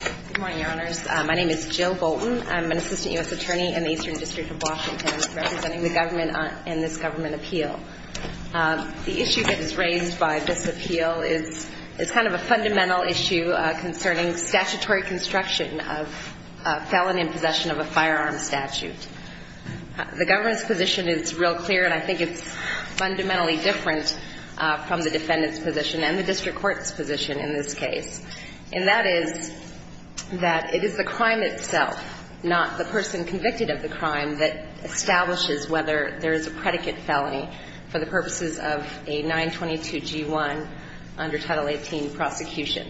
Good morning, your honors. My name is Jill Bolton. I'm an assistant U.S. attorney in the Eastern District of Washington, representing the government in this government appeal. The issue that is raised by this appeal is kind of a fundamental issue concerning statutory construction of a felon in possession of a firearm statute. The government's position is real clear, and I think it's fundamentally different from the defendant's position and the district court's position in this case. And that is that it is the crime itself, not the person convicted of the crime, that establishes whether there is a predicate felony for the purposes of a 922G1 under Title 18 prosecution.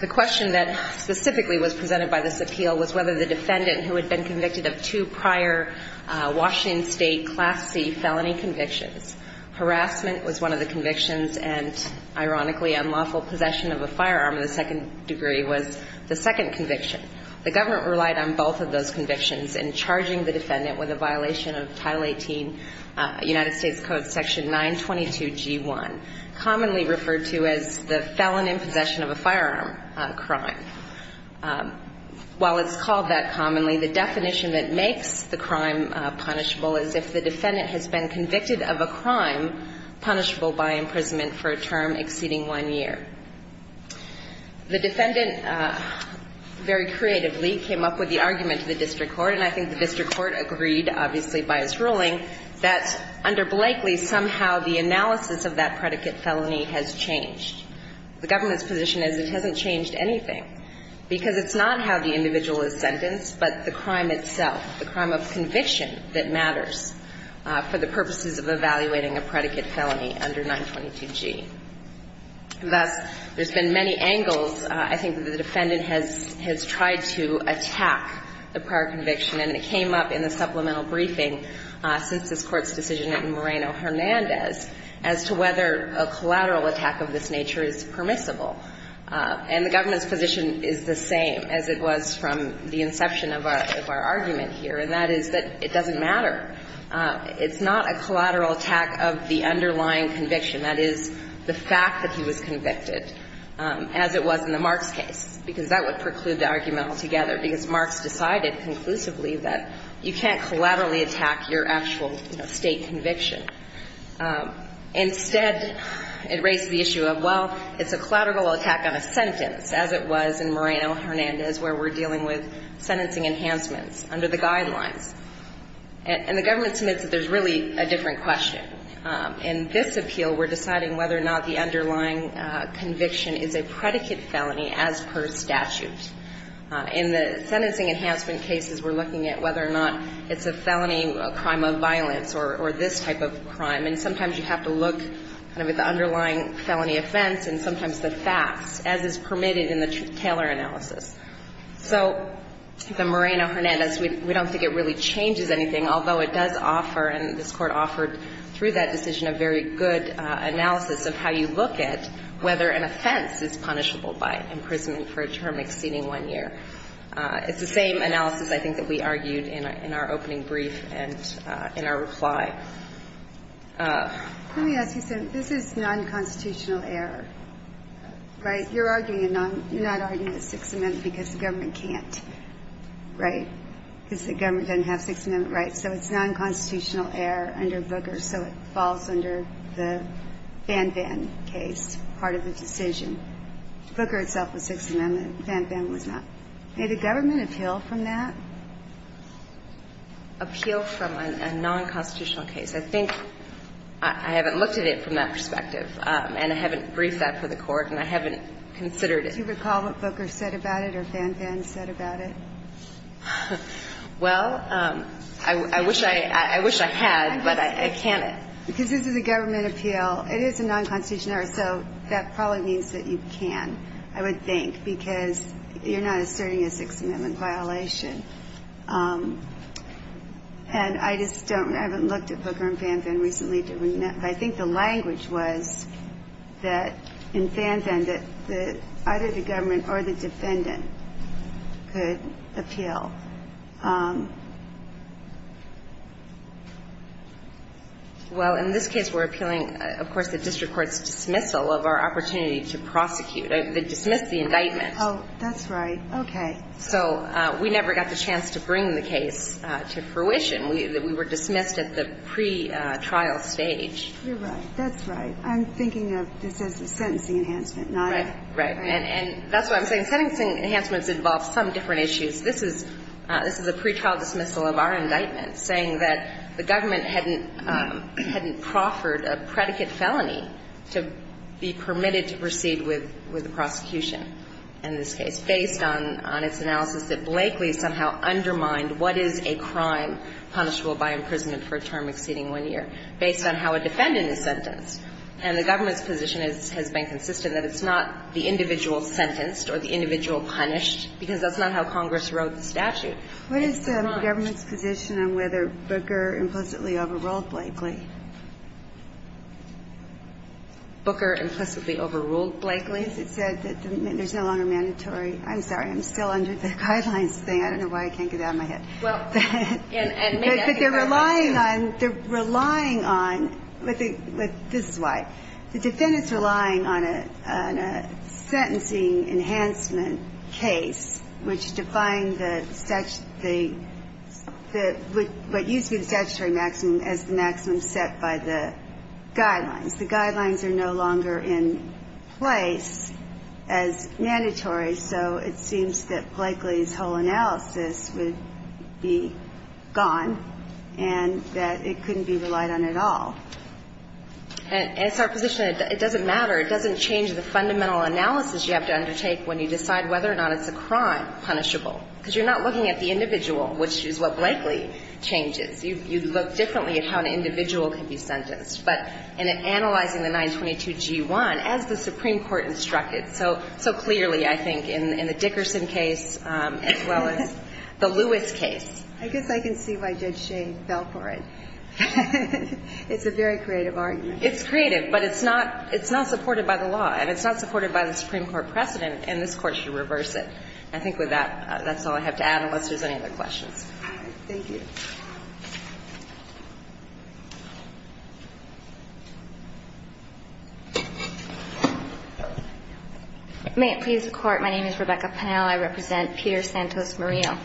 The question that specifically was presented by this appeal was whether the defendant, who had been convicted of two prior Washington State Class C felony convictions, harassment was one of the convictions and, ironically, unlawful possession of a firearm in the second degree was the second conviction. The government relied on both of those convictions in charging the defendant with a violation of Title 18 United States Code Section 922G1, commonly referred to as the felon in possession of a firearm crime. And while it's called that commonly, the definition that makes the crime punishable is if the defendant has been convicted of a crime punishable by imprisonment for a term exceeding one year. The defendant very creatively came up with the argument to the district court, and I think the district court agreed, obviously, by its ruling, that under Blakeley somehow the analysis of that predicate felony has changed. The government's position is it hasn't changed anything, because it's not how the individual is sentenced, but the crime itself, the crime of conviction that matters for the purposes of evaluating a predicate felony under 922G. Thus, there's been many angles, I think, that the defendant has tried to attack the prior conviction, and it came up in the supplemental briefing since this Court's decision in Moreno-Hernandez as to whether a collateral attack of this nature is permissible. And the government's position is the same as it was from the inception of our argument here, and that is that it doesn't matter. It's not a collateral attack of the underlying conviction. That is, the fact that he was convicted, as it was in the Marks case, because that would preclude the argument altogether, because Marks decided conclusively that you can't collaterally attack your actual State conviction. Instead, it raised the issue of, well, it's a collateral attack on a sentence, as it was in Moreno-Hernandez, where we're dealing with sentencing enhancements under the guidelines. And the government submits that there's really a different question. In this appeal, we're deciding whether or not the underlying conviction is a predicate felony as per statute. In the sentencing enhancement cases, we're looking at whether or not it's a felony, a crime of violence, or this type of crime. And sometimes you have to look at the underlying felony offense and sometimes the facts, as is permitted in the Taylor analysis. So the Moreno-Hernandez, we don't think it really changes anything, although it does offer, and this Court offered through that decision, a very good analysis of how you look at whether an offense is punishable by imprisonment for a term exceeding one year. It's the same analysis, I think, that we argued in our opening brief and in our reply. Let me ask you something. This is nonconstitutional error, right? You're arguing a non – you're not arguing a Sixth Amendment because the government can't, right, because the government doesn't have Sixth Amendment rights. So it's nonconstitutional error under Booker, so it falls under the Fan-Fan case, part of the decision. Booker itself was Sixth Amendment. Fan-Fan was not. May the government appeal from that? Appeal from a nonconstitutional case. I think I haven't looked at it from that perspective, and I haven't briefed that for the Court, and I haven't considered it. Do you recall what Booker said about it or Fan-Fan said about it? Well, I wish I had, but I can't. Because this is a government appeal. It is a nonconstitutional error, so that probably means that you can, I would think, because you're not asserting a Sixth Amendment violation. And I just don't – I haven't looked at Booker and Fan-Fan recently. I think the language was that in Fan-Fan that either the government or the defendant could appeal. Well, in this case we're appealing, of course, the district court's dismissal of our opportunity to prosecute, dismiss the indictment. Oh, that's right. Okay. So we never got the chance to bring the case to fruition. We were dismissed at the pretrial stage. You're right. That's right. I'm thinking of this as a sentencing enhancement, not a – Right. Right. And that's what I'm saying. Sentencing enhancements involve some different issues. This is a pretrial dismissal of our indictment, saying that the government hadn't proffered a predicate felony to be permitted to proceed with the prosecution in this case, based on its analysis that Blakely somehow undermined what is a crime punishable by imprisonment for a term exceeding one year, based on how a defendant is sentenced. And the government's position has been consistent that it's not the individual sentenced or the individual punished, because that's not how Congress wrote the statute. It's not. What is the government's position on whether Booker implicitly overruled Blakely? Booker implicitly overruled Blakely? Because it said that there's no longer mandatory. I'm sorry. I'm still under the guidelines thing. I don't know why I can't get it out of my head. But they're relying on, they're relying on, this is why. The defendant's relying on a sentencing enhancement case, which defined the statute, what used to be the statutory maximum as the maximum set by the guidelines. The guidelines are no longer in place as mandatory, so it seems that Blakely's whole analysis would be gone and that it couldn't be relied on at all. And it's our position that it doesn't matter. It doesn't change the fundamental analysis you have to undertake when you decide whether or not it's a crime punishable, because you're not looking at the individual, which is what Blakely changes. You look differently at how an individual can be sentenced. But in analyzing the 922G1, as the Supreme Court instructed so clearly, I think, in the Dickerson case, as well as the Lewis case. I guess I can see why Judge Shane fell for it. It's a very creative argument. It's creative, but it's not supported by the law, and it's not supported by the Supreme Court precedent, and this Court should reverse it. I think with that, that's all I have to add, unless there's any other questions. Thank you. May it please the Court. My name is Rebecca Pennell. I represent Peter Santos-Murillo.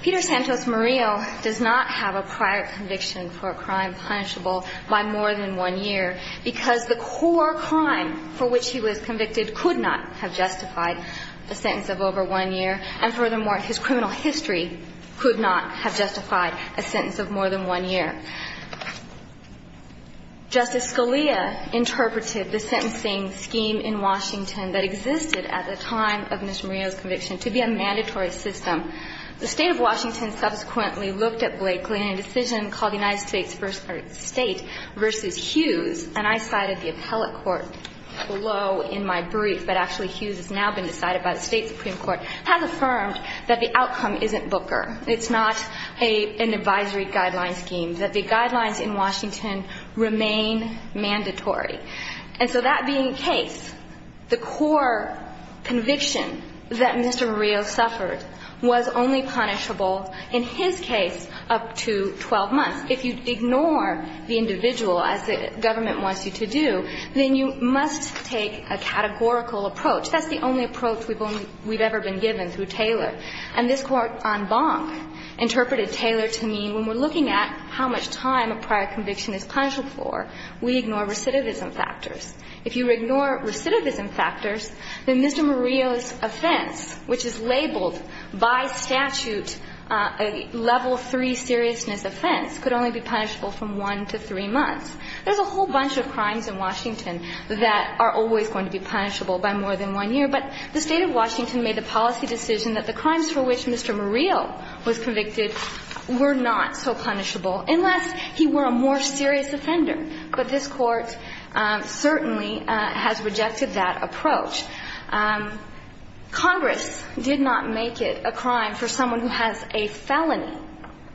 Peter Santos-Murillo does not have a prior conviction for a crime punishable by more than one year, because the core crime for which he was convicted could not have justified a sentence of over one year, and furthermore, his criminal history could not have justified a sentence of more than one year. Justice Scalia interpreted the sentencing scheme in Washington that existed at the time of Mr. Murillo's conviction to be a mandatory system. The State of Washington subsequently looked at Blakely in a decision called the United States First State v. Hughes, and I cited the appellate court below in my brief, but actually Hughes has now been decided by the State Supreme Court, has affirmed that the outcome isn't Booker. It's not an advisory guideline scheme, that the guidelines in Washington remain mandatory. And so that being the case, the core conviction that Mr. Murillo suffered was only punishable in his case up to 12 months. If you ignore the individual, as the government wants you to do, then you must take a categorical approach. That's the only approach we've ever been given through Taylor. And this Court on Bonk interpreted Taylor to mean when we're looking at how much time a prior conviction is punished for, we ignore recidivism factors. If you ignore recidivism factors, then Mr. Murillo's offense, which is labeled by statute a level III seriousness offense, could only be punishable from 1 to 3 months. There's a whole bunch of crimes in Washington that are always going to be punishable by more than one year. But the State of Washington made the policy decision that the crimes for which Mr. Murillo was convicted were not so punishable unless he were a more serious offender. But this Court certainly has rejected that approach. Congress did not make it a crime for someone who has a felony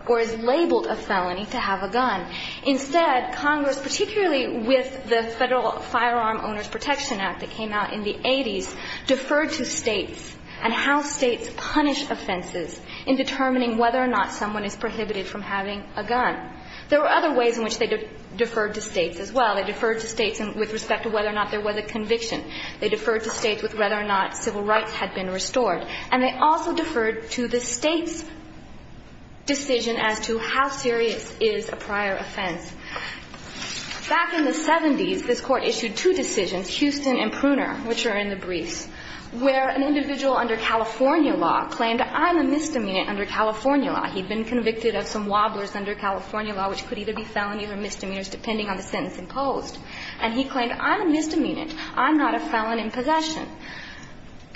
or is labeled a felony to have a gun. Instead, Congress, particularly with the Federal Firearm Owners Protection Act that states and how states punish offenses in determining whether or not someone is prohibited from having a gun. There were other ways in which they deferred to states as well. They deferred to states with respect to whether or not there was a conviction. They deferred to states with whether or not civil rights had been restored. And they also deferred to the state's decision as to how serious is a prior offense. Back in the 70s, this Court issued two decisions, Houston and Pruner, which are in the same language, where an individual under California law claimed, I'm a misdemeanant under California law. He'd been convicted of some wobblers under California law, which could either be felonies or misdemeanors depending on the sentence imposed. And he claimed, I'm a misdemeanant. I'm not a felon in possession.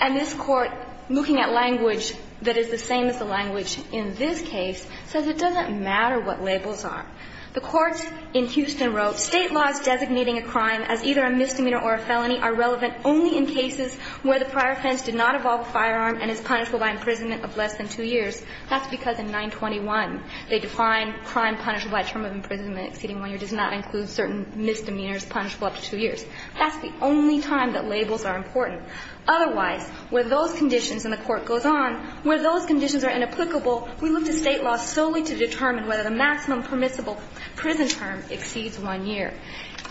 And this Court, looking at language that is the same as the language in this case, says it doesn't matter what labels are. The courts in Houston wrote, State laws designating a crime as either a misdemeanor or a felony are relevant only in cases where the prior offense did not involve a firearm and is punishable by imprisonment of less than two years. That's because in 921, they define crime punishable by term of imprisonment exceeding one year does not include certain misdemeanors punishable up to two years. That's the only time that labels are important. Otherwise, where those conditions, and the Court goes on, where those conditions are inapplicable, we look to State law solely to determine whether the maximum permissible prison term exceeds one year.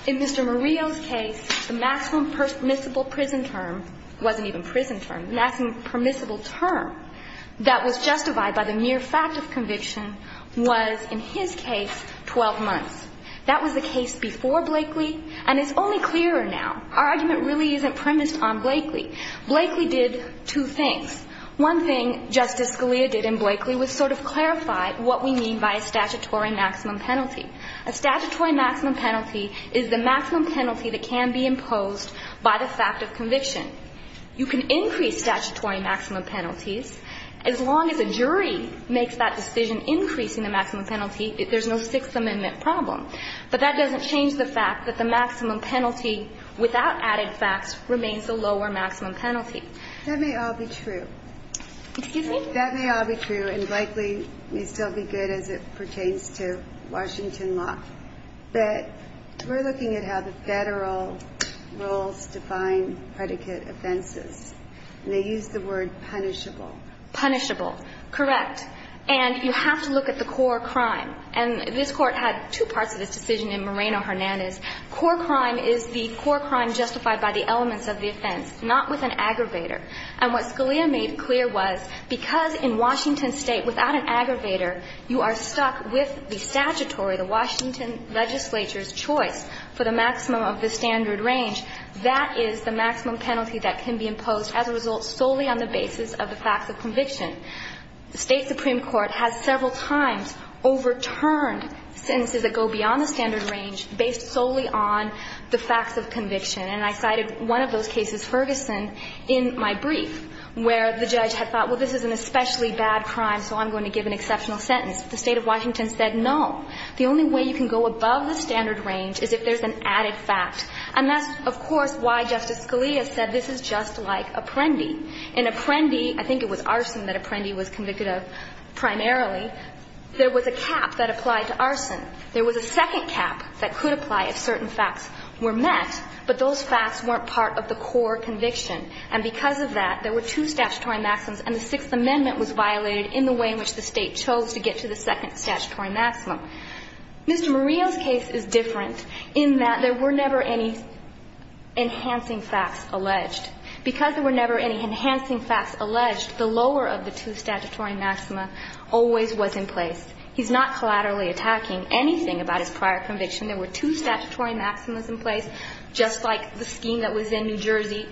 In Mr. Murillo's case, the maximum permissible prison term wasn't even prison term. The maximum permissible term that was justified by the mere fact of conviction was, in his case, 12 months. That was the case before Blakely, and it's only clearer now. Our argument really isn't premised on Blakely. Blakely did two things. One thing Justice Scalia did in Blakely was sort of clarify what we mean by a statutory maximum penalty. A statutory maximum penalty is the maximum penalty that can be imposed by the fact of conviction. You can increase statutory maximum penalties. As long as a jury makes that decision increasing the maximum penalty, there's no Sixth Amendment problem. But that doesn't change the fact that the maximum penalty without added facts remains the lower maximum penalty. That may all be true. Excuse me? That may all be true, and Blakely may still be good as it pertains to Washington law. But we're looking at how the Federal rules define predicate offenses, and they use the word punishable. Punishable. Correct. And you have to look at the core crime. And this Court had two parts of this decision in Moreno-Hernandez. Core crime is the core crime justified by the elements of the offense, not with an aggravator. And what Scalia made clear was because in Washington State without an aggravator you are stuck with the statutory, the Washington legislature's choice for the maximum of the standard range, that is the maximum penalty that can be imposed as a result solely on the basis of the facts of conviction. The State Supreme Court has several times overturned sentences that go beyond the standard range based solely on the facts of conviction. And I cited one of those cases, Ferguson, in my brief, where the judge had thought, well, this is an especially bad crime, so I'm going to give an exceptional sentence. The State of Washington said no. The only way you can go above the standard range is if there's an added fact. And that's, of course, why Justice Scalia said this is just like Apprendi. In Apprendi, I think it was arson that Apprendi was convicted of primarily, there was a cap that applied to arson. There was a second cap that could apply if certain facts were met, but those facts weren't part of the core conviction. And because of that, there were two statutory maxims, and the Sixth Amendment was violated in the way in which the State chose to get to the second statutory maximum. Mr. Murillo's case is different in that there were never any enhancing facts alleged. Because there were never any enhancing facts alleged, the lower of the two statutory maxima always was in place. He's not collaterally attacking anything about his prior conviction. There were two statutory maximas in place, just like the scheme that was in New Jersey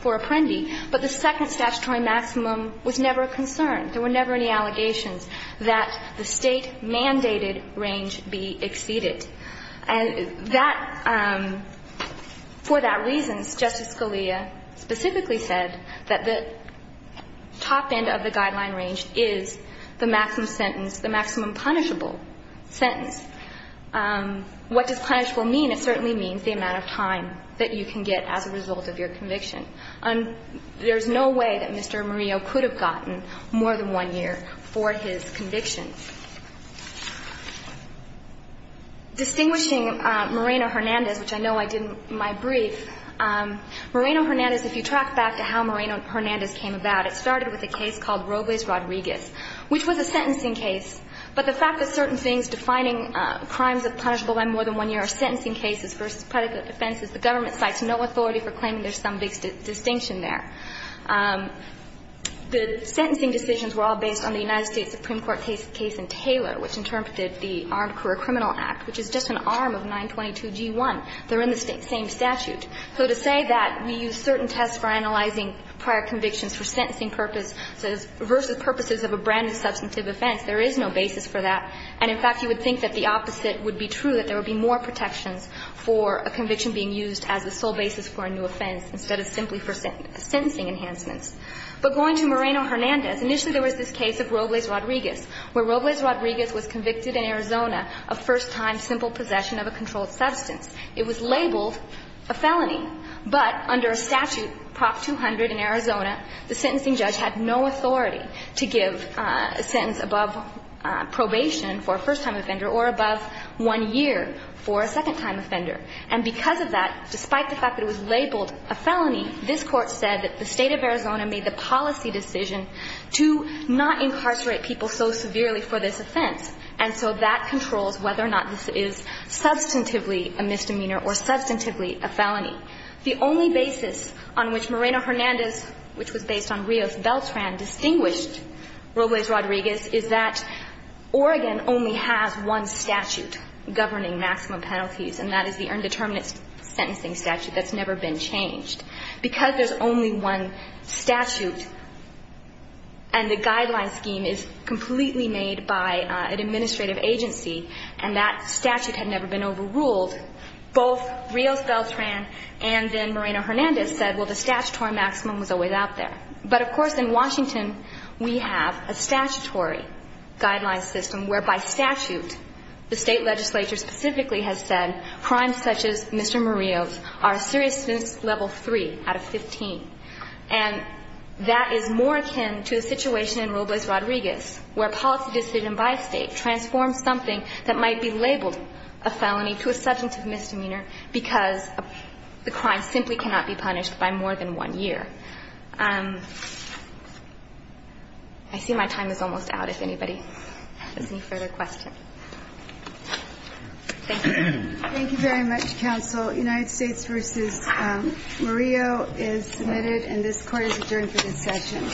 for Apprendi. But the second statutory maximum was never a concern. There were never any allegations that the State-mandated range be exceeded. And that, for that reason, Justice Scalia specifically said that the top end of the maximum punishable sentence, what does punishable mean? It certainly means the amount of time that you can get as a result of your conviction. And there's no way that Mr. Murillo could have gotten more than one year for his convictions. Distinguishing Moreno-Hernandez, which I know I did in my brief, Moreno-Hernandez, if you track back to how Moreno-Hernandez came about, it started with a case called But the fact that certain things defining crimes of punishable by more than one year are sentencing cases versus predicate offenses, the government cites no authority for claiming there's some big distinction there. The sentencing decisions were all based on the United States Supreme Court case in Taylor, which interpreted the Armed Career Criminal Act, which is just an arm of 922G1. They're in the same statute. So to say that we use certain tests for analyzing prior convictions for sentencing purpose versus purposes of a brand-new substantive offense, there is no basis for that. And, in fact, you would think that the opposite would be true, that there would be more protections for a conviction being used as the sole basis for a new offense instead of simply for sentencing enhancements. But going to Moreno-Hernandez, initially there was this case of Robles-Rodriguez, where Robles-Rodriguez was convicted in Arizona of first-time simple possession of a controlled substance. It was labeled a felony. But under a statute, Prop 200 in Arizona, the sentencing judge had no authority to give a sentence above probation for a first-time offender or above one year for a second time offender. And because of that, despite the fact that it was labeled a felony, this Court said that the State of Arizona made the policy decision to not incarcerate people so severely for this offense. And so that controls whether or not this is substantively a misdemeanor or substantively a felony. The only basis on which Moreno-Hernandez, which was based on Rios-Beltran, distinguished Robles-Rodriguez is that Oregon only has one statute governing maximum penalties, and that is the Earned Determinant Sentencing Statute. That's never been changed. Because there's only one statute and the guideline scheme is completely made by an administrative agency and that statute had never been overruled, both Rios-Beltran and then Moreno-Hernandez said, well, the statutory maximum was always out there. But, of course, in Washington, we have a statutory guideline system where, by statute, the State legislature specifically has said crimes such as Mr. Morios are a serious offense level 3 out of 15. And that is more akin to a situation in Robles-Rodriguez where a policy decision by State transforms something that might be labeled a felony to a substantive misdemeanor because the crime simply cannot be punished by more than one year. I see my time is almost out if anybody has any further questions. Thank you. Thank you very much, counsel. United States v. Morio is submitted and this Court is adjourned for this session.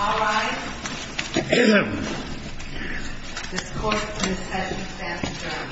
All rise. This Court is adjourned. Thank you.